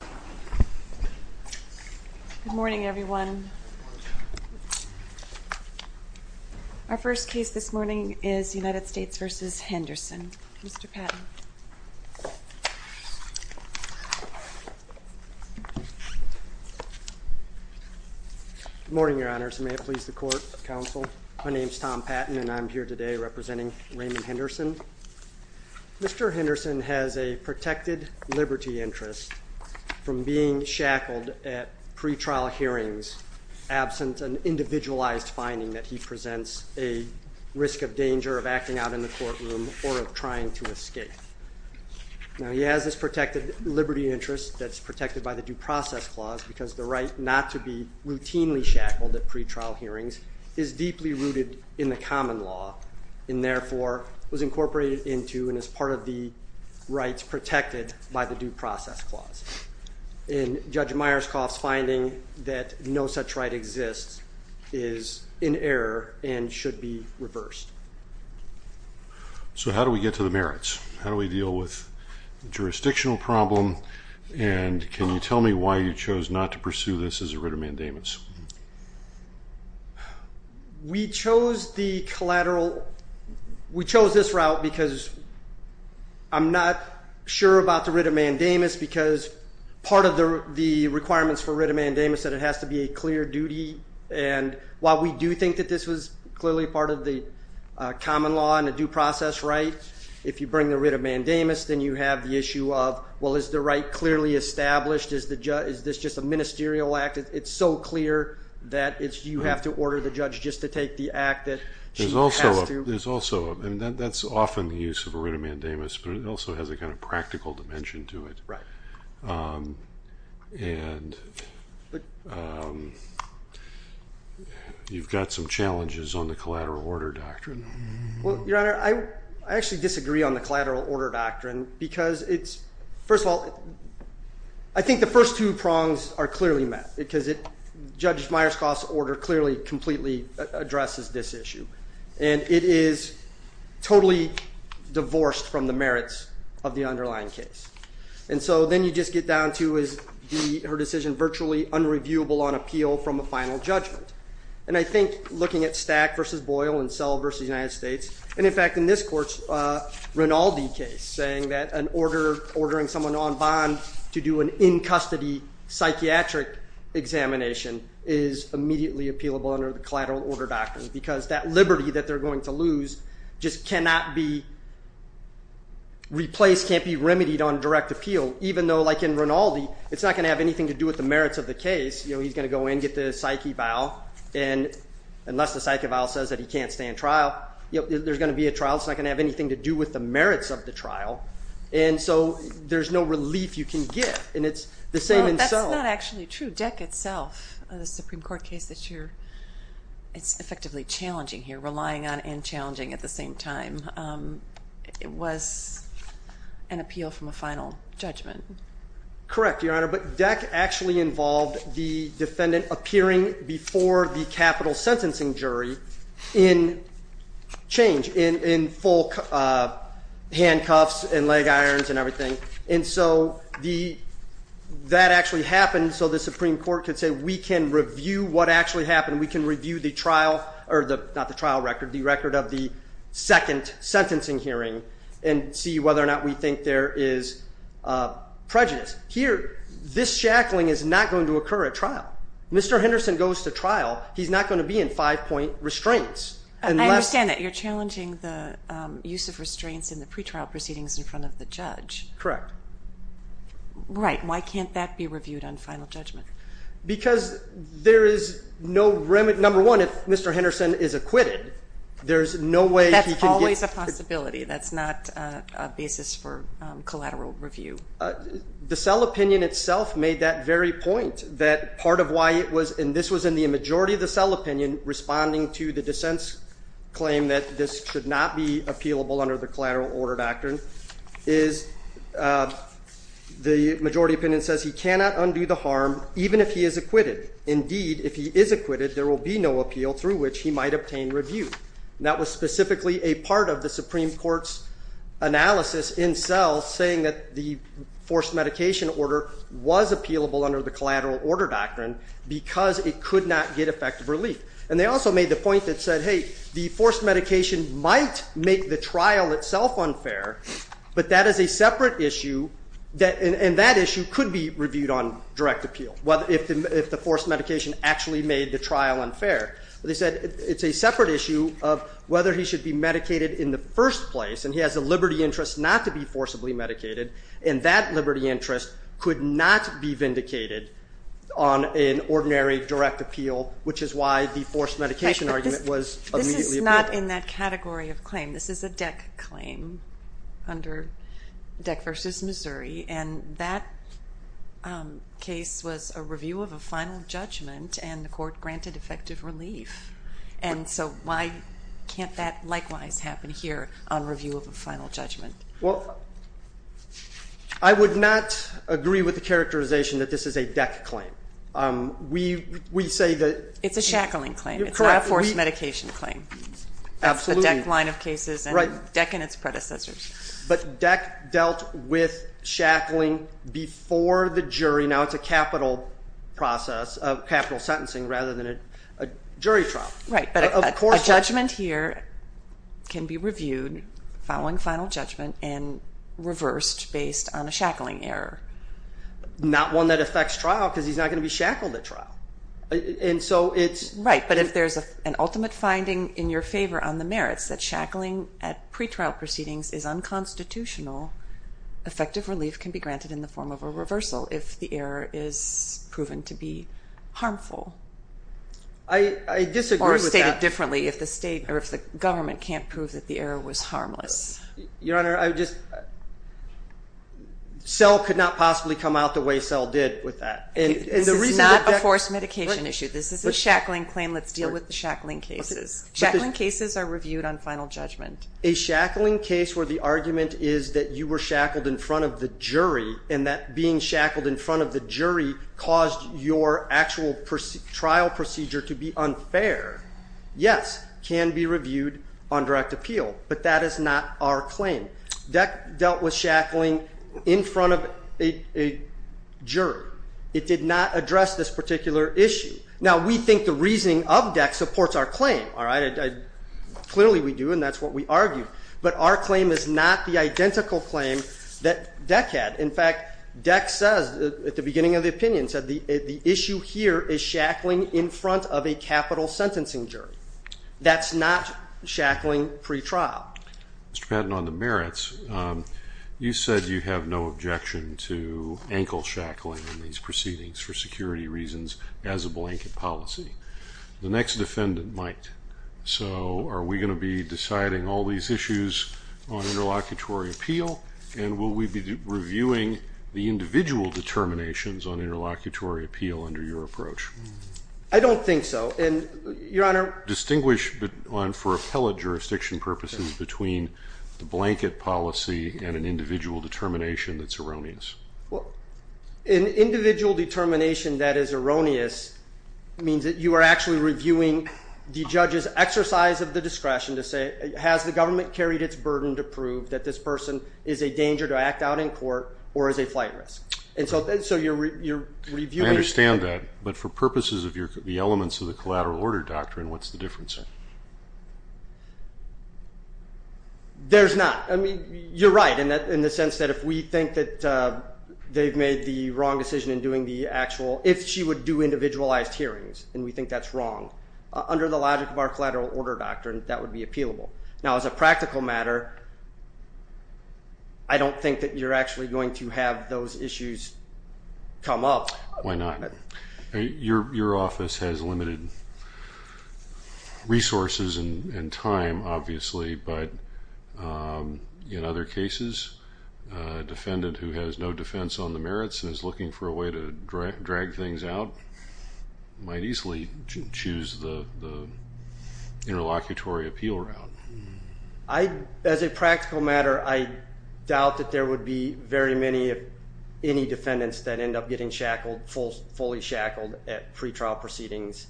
Good morning everyone. Our first case this morning is United States v. Henderson. Mr. Patton. Good morning, Your Honors. May it please the Court, Counsel. My name is Tom Patton and I'm here today representing Raymond Henderson. Mr. Henderson has a protected liberty interest. From being shackled at pretrial hearings absent an individualized finding that he presents a risk of danger of acting out in the courtroom or of trying to escape. Now he has this protected liberty interest that's protected by the Due Process Clause because the right not to be routinely shackled at pretrial hearings is deeply rooted in the common law and therefore was in Judge Myerscough's finding that no such right exists is in error and should be reversed. So how do we get to the merits? How do we deal with the jurisdictional problem and can you tell me why you chose not to pursue this as a writ of mandamus? We chose the collateral, we chose this route because I'm not sure about the writ of mandamus because part of the requirements for writ of mandamus that it has to be a clear duty and while we do think that this was clearly part of the common law and a due process right, if you bring the writ of mandamus then you have the issue of, well is the right clearly established? Is this just a ministerial act? It's so clear that you have to order the judge just to take the act that she has to. There's also, and that's often the use of a writ of mandamus, and you've got some challenges on the collateral order doctrine. Well, your honor, I actually disagree on the collateral order doctrine because it's, first of all, I think the first two prongs are clearly met because Judge Myerscough's order clearly completely addresses this issue and it is totally divorced from the merits of the underlying case. And so then you just get down to, is her decision virtually unreviewable on appeal from a final judgment? And I think looking at Stack v. Boyle and Sell v. United States, and in fact in this court's Rinaldi case, saying that an order, ordering someone on bond to do an in-custody psychiatric examination is immediately appealable under the collateral order doctrine because that liberty that they're going to lose just cannot be replaced, can't be remedied on direct appeal, even though like in Rinaldi, it's not going to have anything to do with the merits of the case. He's going to go in, get the psyche vial, and unless the psyche vial says that he can't stand trial, there's going to be a trial. It's not going to have anything to do with the merits of the trial, and so there's no relief you can get, and it's the same in Sell. It's not actually true. Deck itself, the Supreme Court case that you're, it's effectively challenging here, relying on and challenging at the same time. It was an appeal from a final judgment. Correct, Your Honor, but Deck actually involved the defendant appearing before the capital sentencing jury in change, in full handcuffs and leg irons and everything. And so that actually happened so the Supreme Court could say, we can review what actually happened. We can review the trial, or the, not the trial record, the record of the second sentencing hearing and see whether or not we think there is prejudice. Here, this shackling is not going to occur at trial. Mr. Henderson goes to trial. He's not going to be in five-point restraints. I understand that you're challenging the use of restraints in the pretrial proceedings in front of the judge. Correct. Right, why can't that be reviewed on final judgment? Because there is no remedy. Number one, if Mr. Henderson is acquitted, there's no way he can get... That's always a possibility. That's not a basis for collateral review. The Sell opinion itself made that very point, that part of why it was, and this was in the majority of the Sell opinion, responding to the dissent's claim that this should not be cannot undo the harm even if he is acquitted. Indeed, if he is acquitted, there will be no appeal through which he might obtain review. That was specifically a part of the Supreme Court's analysis in Sell, saying that the forced medication order was appealable under the collateral order doctrine because it could not get effective relief. And they also made the point that said, hey, the forced medication might make the trial itself unfair, but that is a separate issue of whether he should be medicated in the first place. And he has a liberty interest not to be forcibly medicated, and that liberty interest could not be vindicated on an ordinary direct appeal, which is why the forced medication argument was immediately appealed. This is not in that category of claim. This is a DEC claim under DEC v. Missouri, and that case was a review of a final judgment, and the court granted effective relief. And so why can't that likewise happen here on review of a final judgment? I would not agree with the characterization that this is a DEC claim. We say that it's a DEC line of cases and DEC and its predecessors. But DEC dealt with shackling before the jury. Now it's a capital process of capital sentencing rather than a jury trial. Right, but a judgment here can be reviewed following final judgment and reversed based on a shackling error. Not one that affects trial because he's not going to be shackled at trial. And so it's... Right, but if there's an ultimate finding in your favor on the merits that shackling at pretrial proceedings is unconstitutional, effective relief can be granted in the form of a reversal if the error is proven to be harmful. I disagree with that. Or stated differently if the state or if the government can't prove that the error was harmless. Your Honor, I just... This is not a forced medication issue. This is a shackling claim. Let's deal with the shackling cases. Shackling cases are reviewed on final judgment. A shackling case where the argument is that you were shackled in front of the jury and that being shackled in front of the jury caused your actual trial procedure to be unfair, yes, can be reviewed on direct appeal. But that is not our claim. DEC dealt with shackling in front of a jury. It did not address this particular issue. Now we think the reasoning of DEC supports our claim, all right? Clearly we do and that's what we argued. But our claim is not the identical claim that DEC had. In fact, DEC says at the beginning of the opinion said the issue here is shackling in front of a capital sentencing jury. That's not shackling pre-trial. Mr. Patton, on the merits, you said you have no objection to ankle shackling in these proceedings for security reasons as a blanket policy. The next defendant might. So are we going to be deciding all these issues on interlocutory appeal and will we be reviewing the individual determinations on interlocutory appeal under your approach? I don't think so. And Your Honor... Distinguish on for appellate jurisdiction purposes between the blanket policy and an individual determination that's erroneous. An individual determination that is erroneous means that you are actually reviewing the judge's exercise of the discretion to say has the government carried its burden to prove that this person is a danger to act out in court or is a flight risk. And so you're reviewing... I understand that. But for purposes of the elements of the collateral order doctrine, what's the difference? There's not. I mean, you're right in that in the sense that if we think that they've made the wrong decision in doing the actual... if she would do individualized hearings and we think that's wrong under the logic of our collateral order doctrine, that would be appealable. Now, as a practical matter, I don't think that you're actually going to have those resources and time, obviously. But in other cases, a defendant who has no defense on the merits and is looking for a way to drag things out might easily choose the interlocutory appeal route. As a practical matter, I doubt that there would be very many of any defendants that end up getting fully shackled at pre-trial proceedings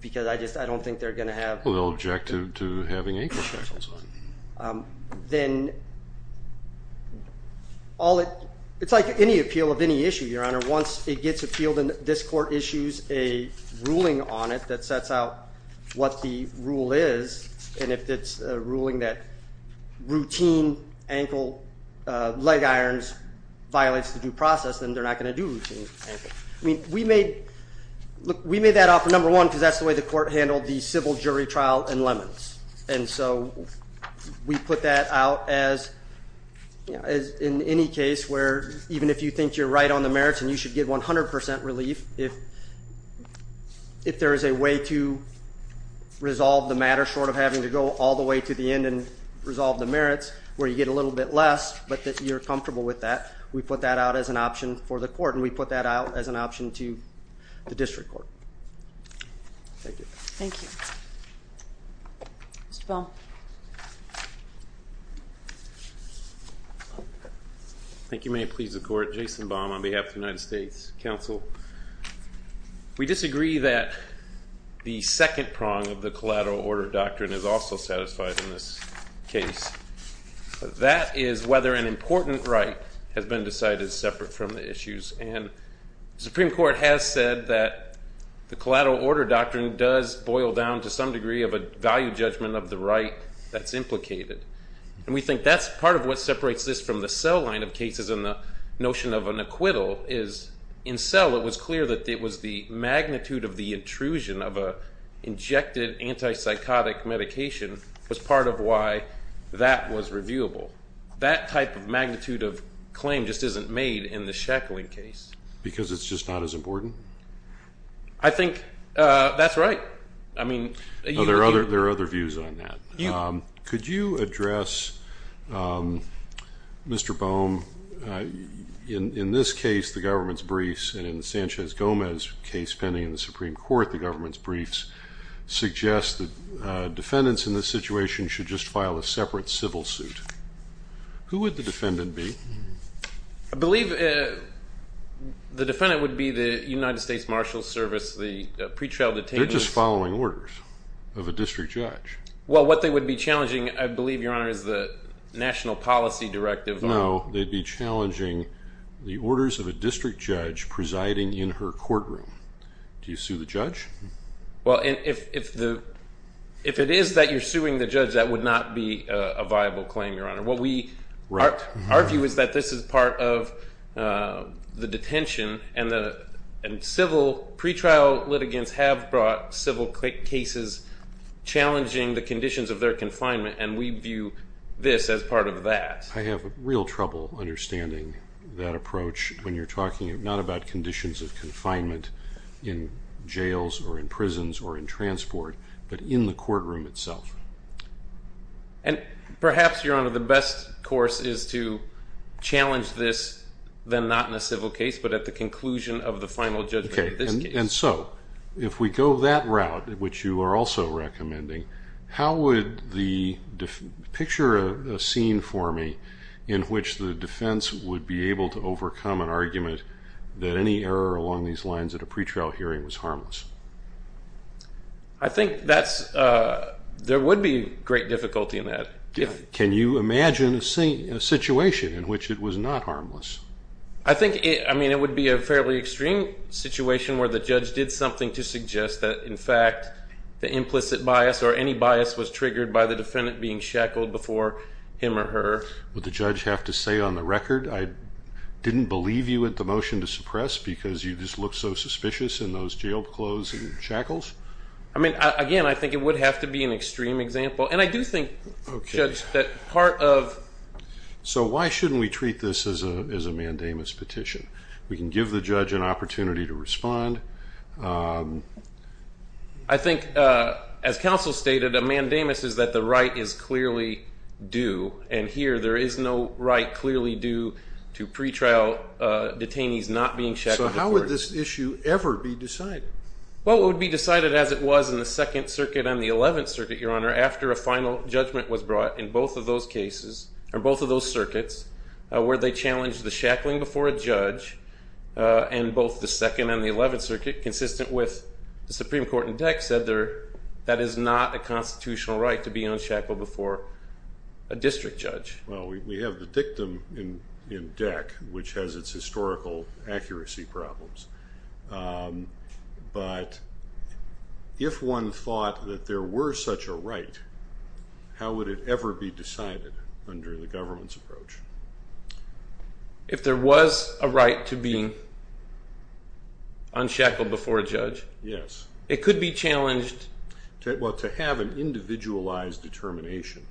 because I don't think they're going to have... Well, the objective to having ankle shackles on. Then, it's like any appeal of any issue, Your Honor. Once it gets appealed and this court issues a ruling on it that sets out what the rule is, and if it's a ruling that routine ankle leg irons violates the due process, then they're not going to do routine ankle. I mean, we made that offer, number one, because that's the way the court handled the civil jury trial in Lemons. And so, we put that out as in any case where even if you think you're right on the merits and you should get 100% relief, if there is a way to resolve the matter short of having to go all the way to the end and resolve the merits where you get a little bit less, but that you're comfortable with that, we put that out as an option for the court and we put that out as an option to the district court. Thank you. Thank you. Mr. Baum. Thank you. May it please the court. Jason Baum on behalf of the United States Council. We disagree that the second prong of the collateral order doctrine is also satisfied in this case. That is whether an important right has been decided separate from the issues. And the Supreme Court has said that the collateral order doctrine does boil down to some degree of a value judgment of the right that's implicated. And we think that's part of what separates this from the cell of cases and the notion of an acquittal is in cell, it was clear that it was the magnitude of the intrusion of an injected antipsychotic medication was part of why that was reviewable. That type of magnitude of claim just isn't made in the shackling case. Because it's just not as important? I think that's right. I mean, there are other views on that. Could you address, Mr. Baum, in this case, the government's briefs and in the Sanchez-Gomez case pending in the Supreme Court, the government's briefs suggest that defendants in this situation should just file a separate civil suit. Who would the defendant be? I believe the defendant would be the United States Service, the pretrial detainees. They're just following orders of a district judge. Well, what they would be challenging, I believe, Your Honor, is the national policy directive. No, they'd be challenging the orders of a district judge presiding in her courtroom. Do you sue the judge? Well, if it is that you're suing the judge, that would not be a viable claim, Your Honor. Our view is that this is part of the detention, and civil pretrial litigants have brought civil cases challenging the conditions of their confinement, and we view this as part of that. I have real trouble understanding that approach when you're talking not about conditions of confinement in jails or in prisons or in transport, but in the courtroom itself. And perhaps, Your Honor, the best course is to at the conclusion of the final judgment of this case. And so, if we go that route, which you are also recommending, how would the... Picture a scene for me in which the defense would be able to overcome an argument that any error along these lines at a pretrial hearing was harmless. I think there would be great difficulty in that. Can you imagine a situation in which it was not harmless? I think... I mean, it would be a fairly extreme situation where the judge did something to suggest that, in fact, the implicit bias or any bias was triggered by the defendant being shackled before him or her. Would the judge have to say on the record, I didn't believe you at the motion to suppress because you just look so suspicious in those jail clothes and shackles? I mean, again, I think it would have to be an extreme example. And I do think, Judge, that part of... So why shouldn't we treat this as a mandamus petition? We can give the judge an opportunity to respond. I think, as counsel stated, a mandamus is that the right is clearly due. And here, there is no right clearly due to pretrial detainees not being shackled before... So how would this issue ever be decided? Well, it would be decided as it was in the Second Circuit and the Eleventh Circuit, Your Honor, after a final judgment was brought in both of those cases, or both of those circuits, where they challenged the shackling before a judge. And both the Second and the Eleventh Circuit, consistent with the Supreme Court and DEC, said that is not a constitutional right to be unshackled before a district judge. Well, we have the dictum in DEC, which has its historical accuracy problems. But if one thought that there were such a right, how would it ever be decided under the government's approach? If there was a right to be unshackled before a judge? Yes. It could be challenged... Well, to have an individualized determination,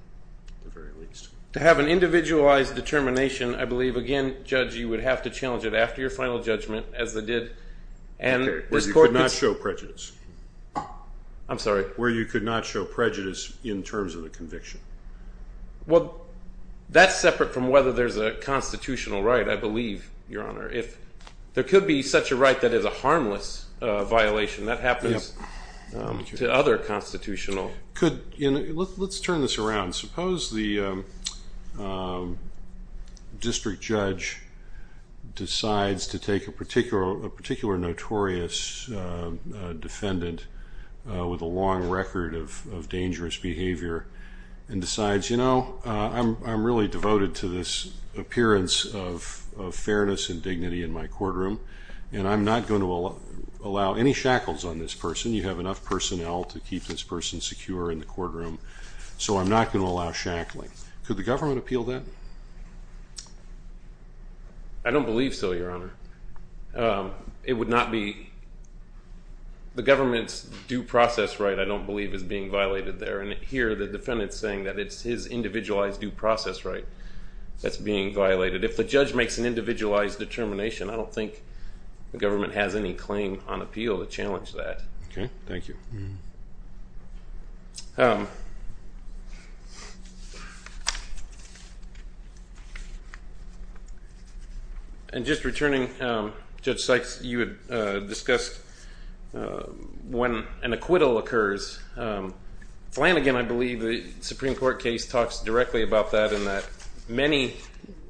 at the very least. To have an individualized determination, I believe, again, you would have to challenge it after your final judgment, as they did. Where you could not show prejudice. I'm sorry? Where you could not show prejudice in terms of the conviction. Well, that's separate from whether there's a constitutional right, I believe, Your Honor. There could be such a right that is a harmless violation. That happens to other constitutional... Let's turn this around. Suppose the judge decides to take a particular notorious defendant with a long record of dangerous behavior and decides, you know, I'm really devoted to this appearance of fairness and dignity in my courtroom, and I'm not going to allow any shackles on this person. You have enough personnel to keep this person secure in the courtroom, so I'm not going to allow shackling. Could the government appeal that? I don't believe so, Your Honor. It would not be... The government's due process right, I don't believe, is being violated there, and here, the defendant's saying that it's his individualized due process right that's being violated. If the judge makes an individualized determination, I don't think the government has any claim on appeal to challenge that. Okay. Thank you. And just returning, Judge Sykes, you had discussed when an acquittal occurs. Flanagan, I believe, the Supreme Court case talks directly about that in that many...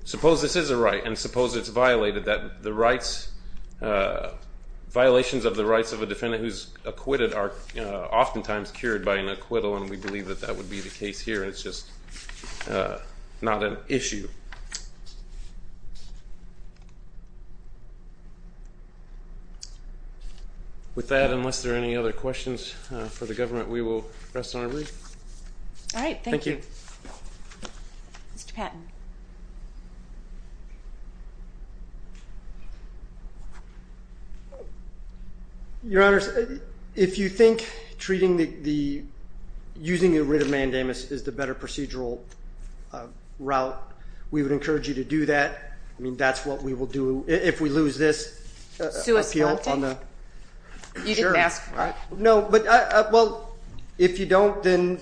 Suppose this is a right, and suppose it's violated, that the rights... Violations of the rights of a defendant who's acquitted are oftentimes cured by an acquittal, and we believe that that would be the case here. It's just not an issue. With that, unless there are any other questions for the government, we will press onward. All right. Thank you. Thank you. Mr. Patton. Your Honors, if you think treating the... Using a writ of mandamus is the better procedural route, we would encourage you to do that. I mean, that's what we will do if we lose this appeal on... You didn't ask for it. No, but... Well, if you don't, then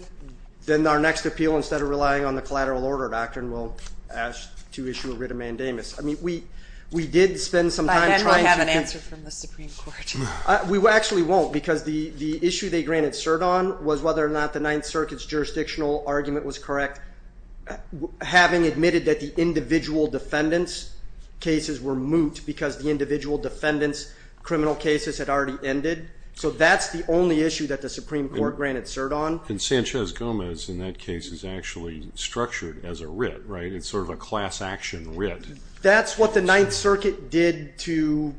our next appeal, instead of relying on the collateral order doctrine, will ask to issue a writ of mandamus. I mean, we did spend some time trying to... By then, we'll have an answer from the Supreme Court. We actually won't, because the issue they granted cert on was whether or not the Ninth Circuit's jurisdictional argument was correct. Having admitted that the individual defendants' cases were moot because the individual defendants' criminal cases had already ended, so that's the only issue that the Supreme Court granted cert on. And Sanchez-Gomez, in that case, is actually structured as a writ, right? It's sort of a class action writ. That's what the Ninth Circuit did to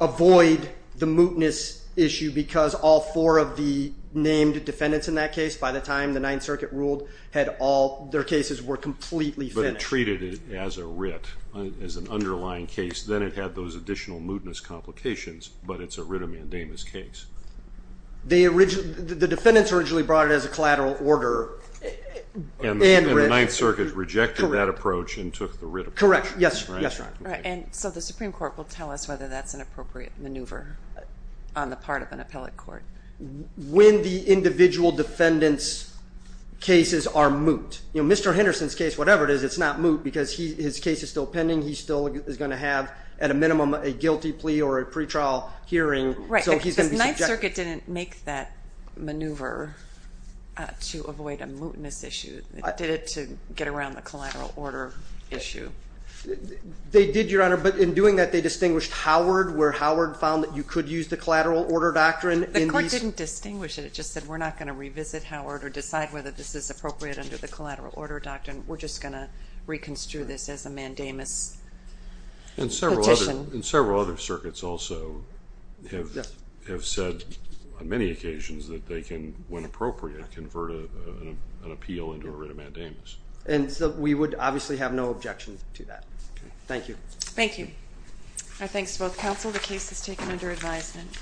avoid the mootness issue, because all four of the named defendants in that case, by the time the Ninth Circuit ruled, had all... Their cases were completely finished. But it treated it as a writ, as an underlying case. Then it had those additional mootness complications, but it's a writ of mandamus case. The defendants originally brought it as a collateral order. And the Ninth Circuit rejected that approach and took the writ of... Correct. Yes. Yes, Your Honor. Right. And so the Supreme Court will tell us whether that's an appropriate maneuver on the part of an appellate court. When the individual defendants' cases are moot... Mr. Henderson's case, whatever it is, it's not moot, because his case is still pending. He still is going to have, at a minimum, a guilty plea or a pretrial hearing. Right. So he's going to be subject... The Ninth Circuit didn't make that maneuver to avoid a mootness issue. They did it to get around the collateral order issue. They did, Your Honor. But in doing that, they distinguished Howard, where Howard found that you could use the collateral order doctrine. The court didn't distinguish it. It just said, we're not going to revisit Howard or decide whether this is appropriate under the collateral order doctrine. We're just going to reconstrue this as a mandamus petition. And several other circuits also have said on many occasions that they can, when appropriate, convert an appeal into a writ of mandamus. And so we would obviously have no objection to that. Okay. Thank you. Thank you. Our thanks to both counsel. The case is taken under advisement.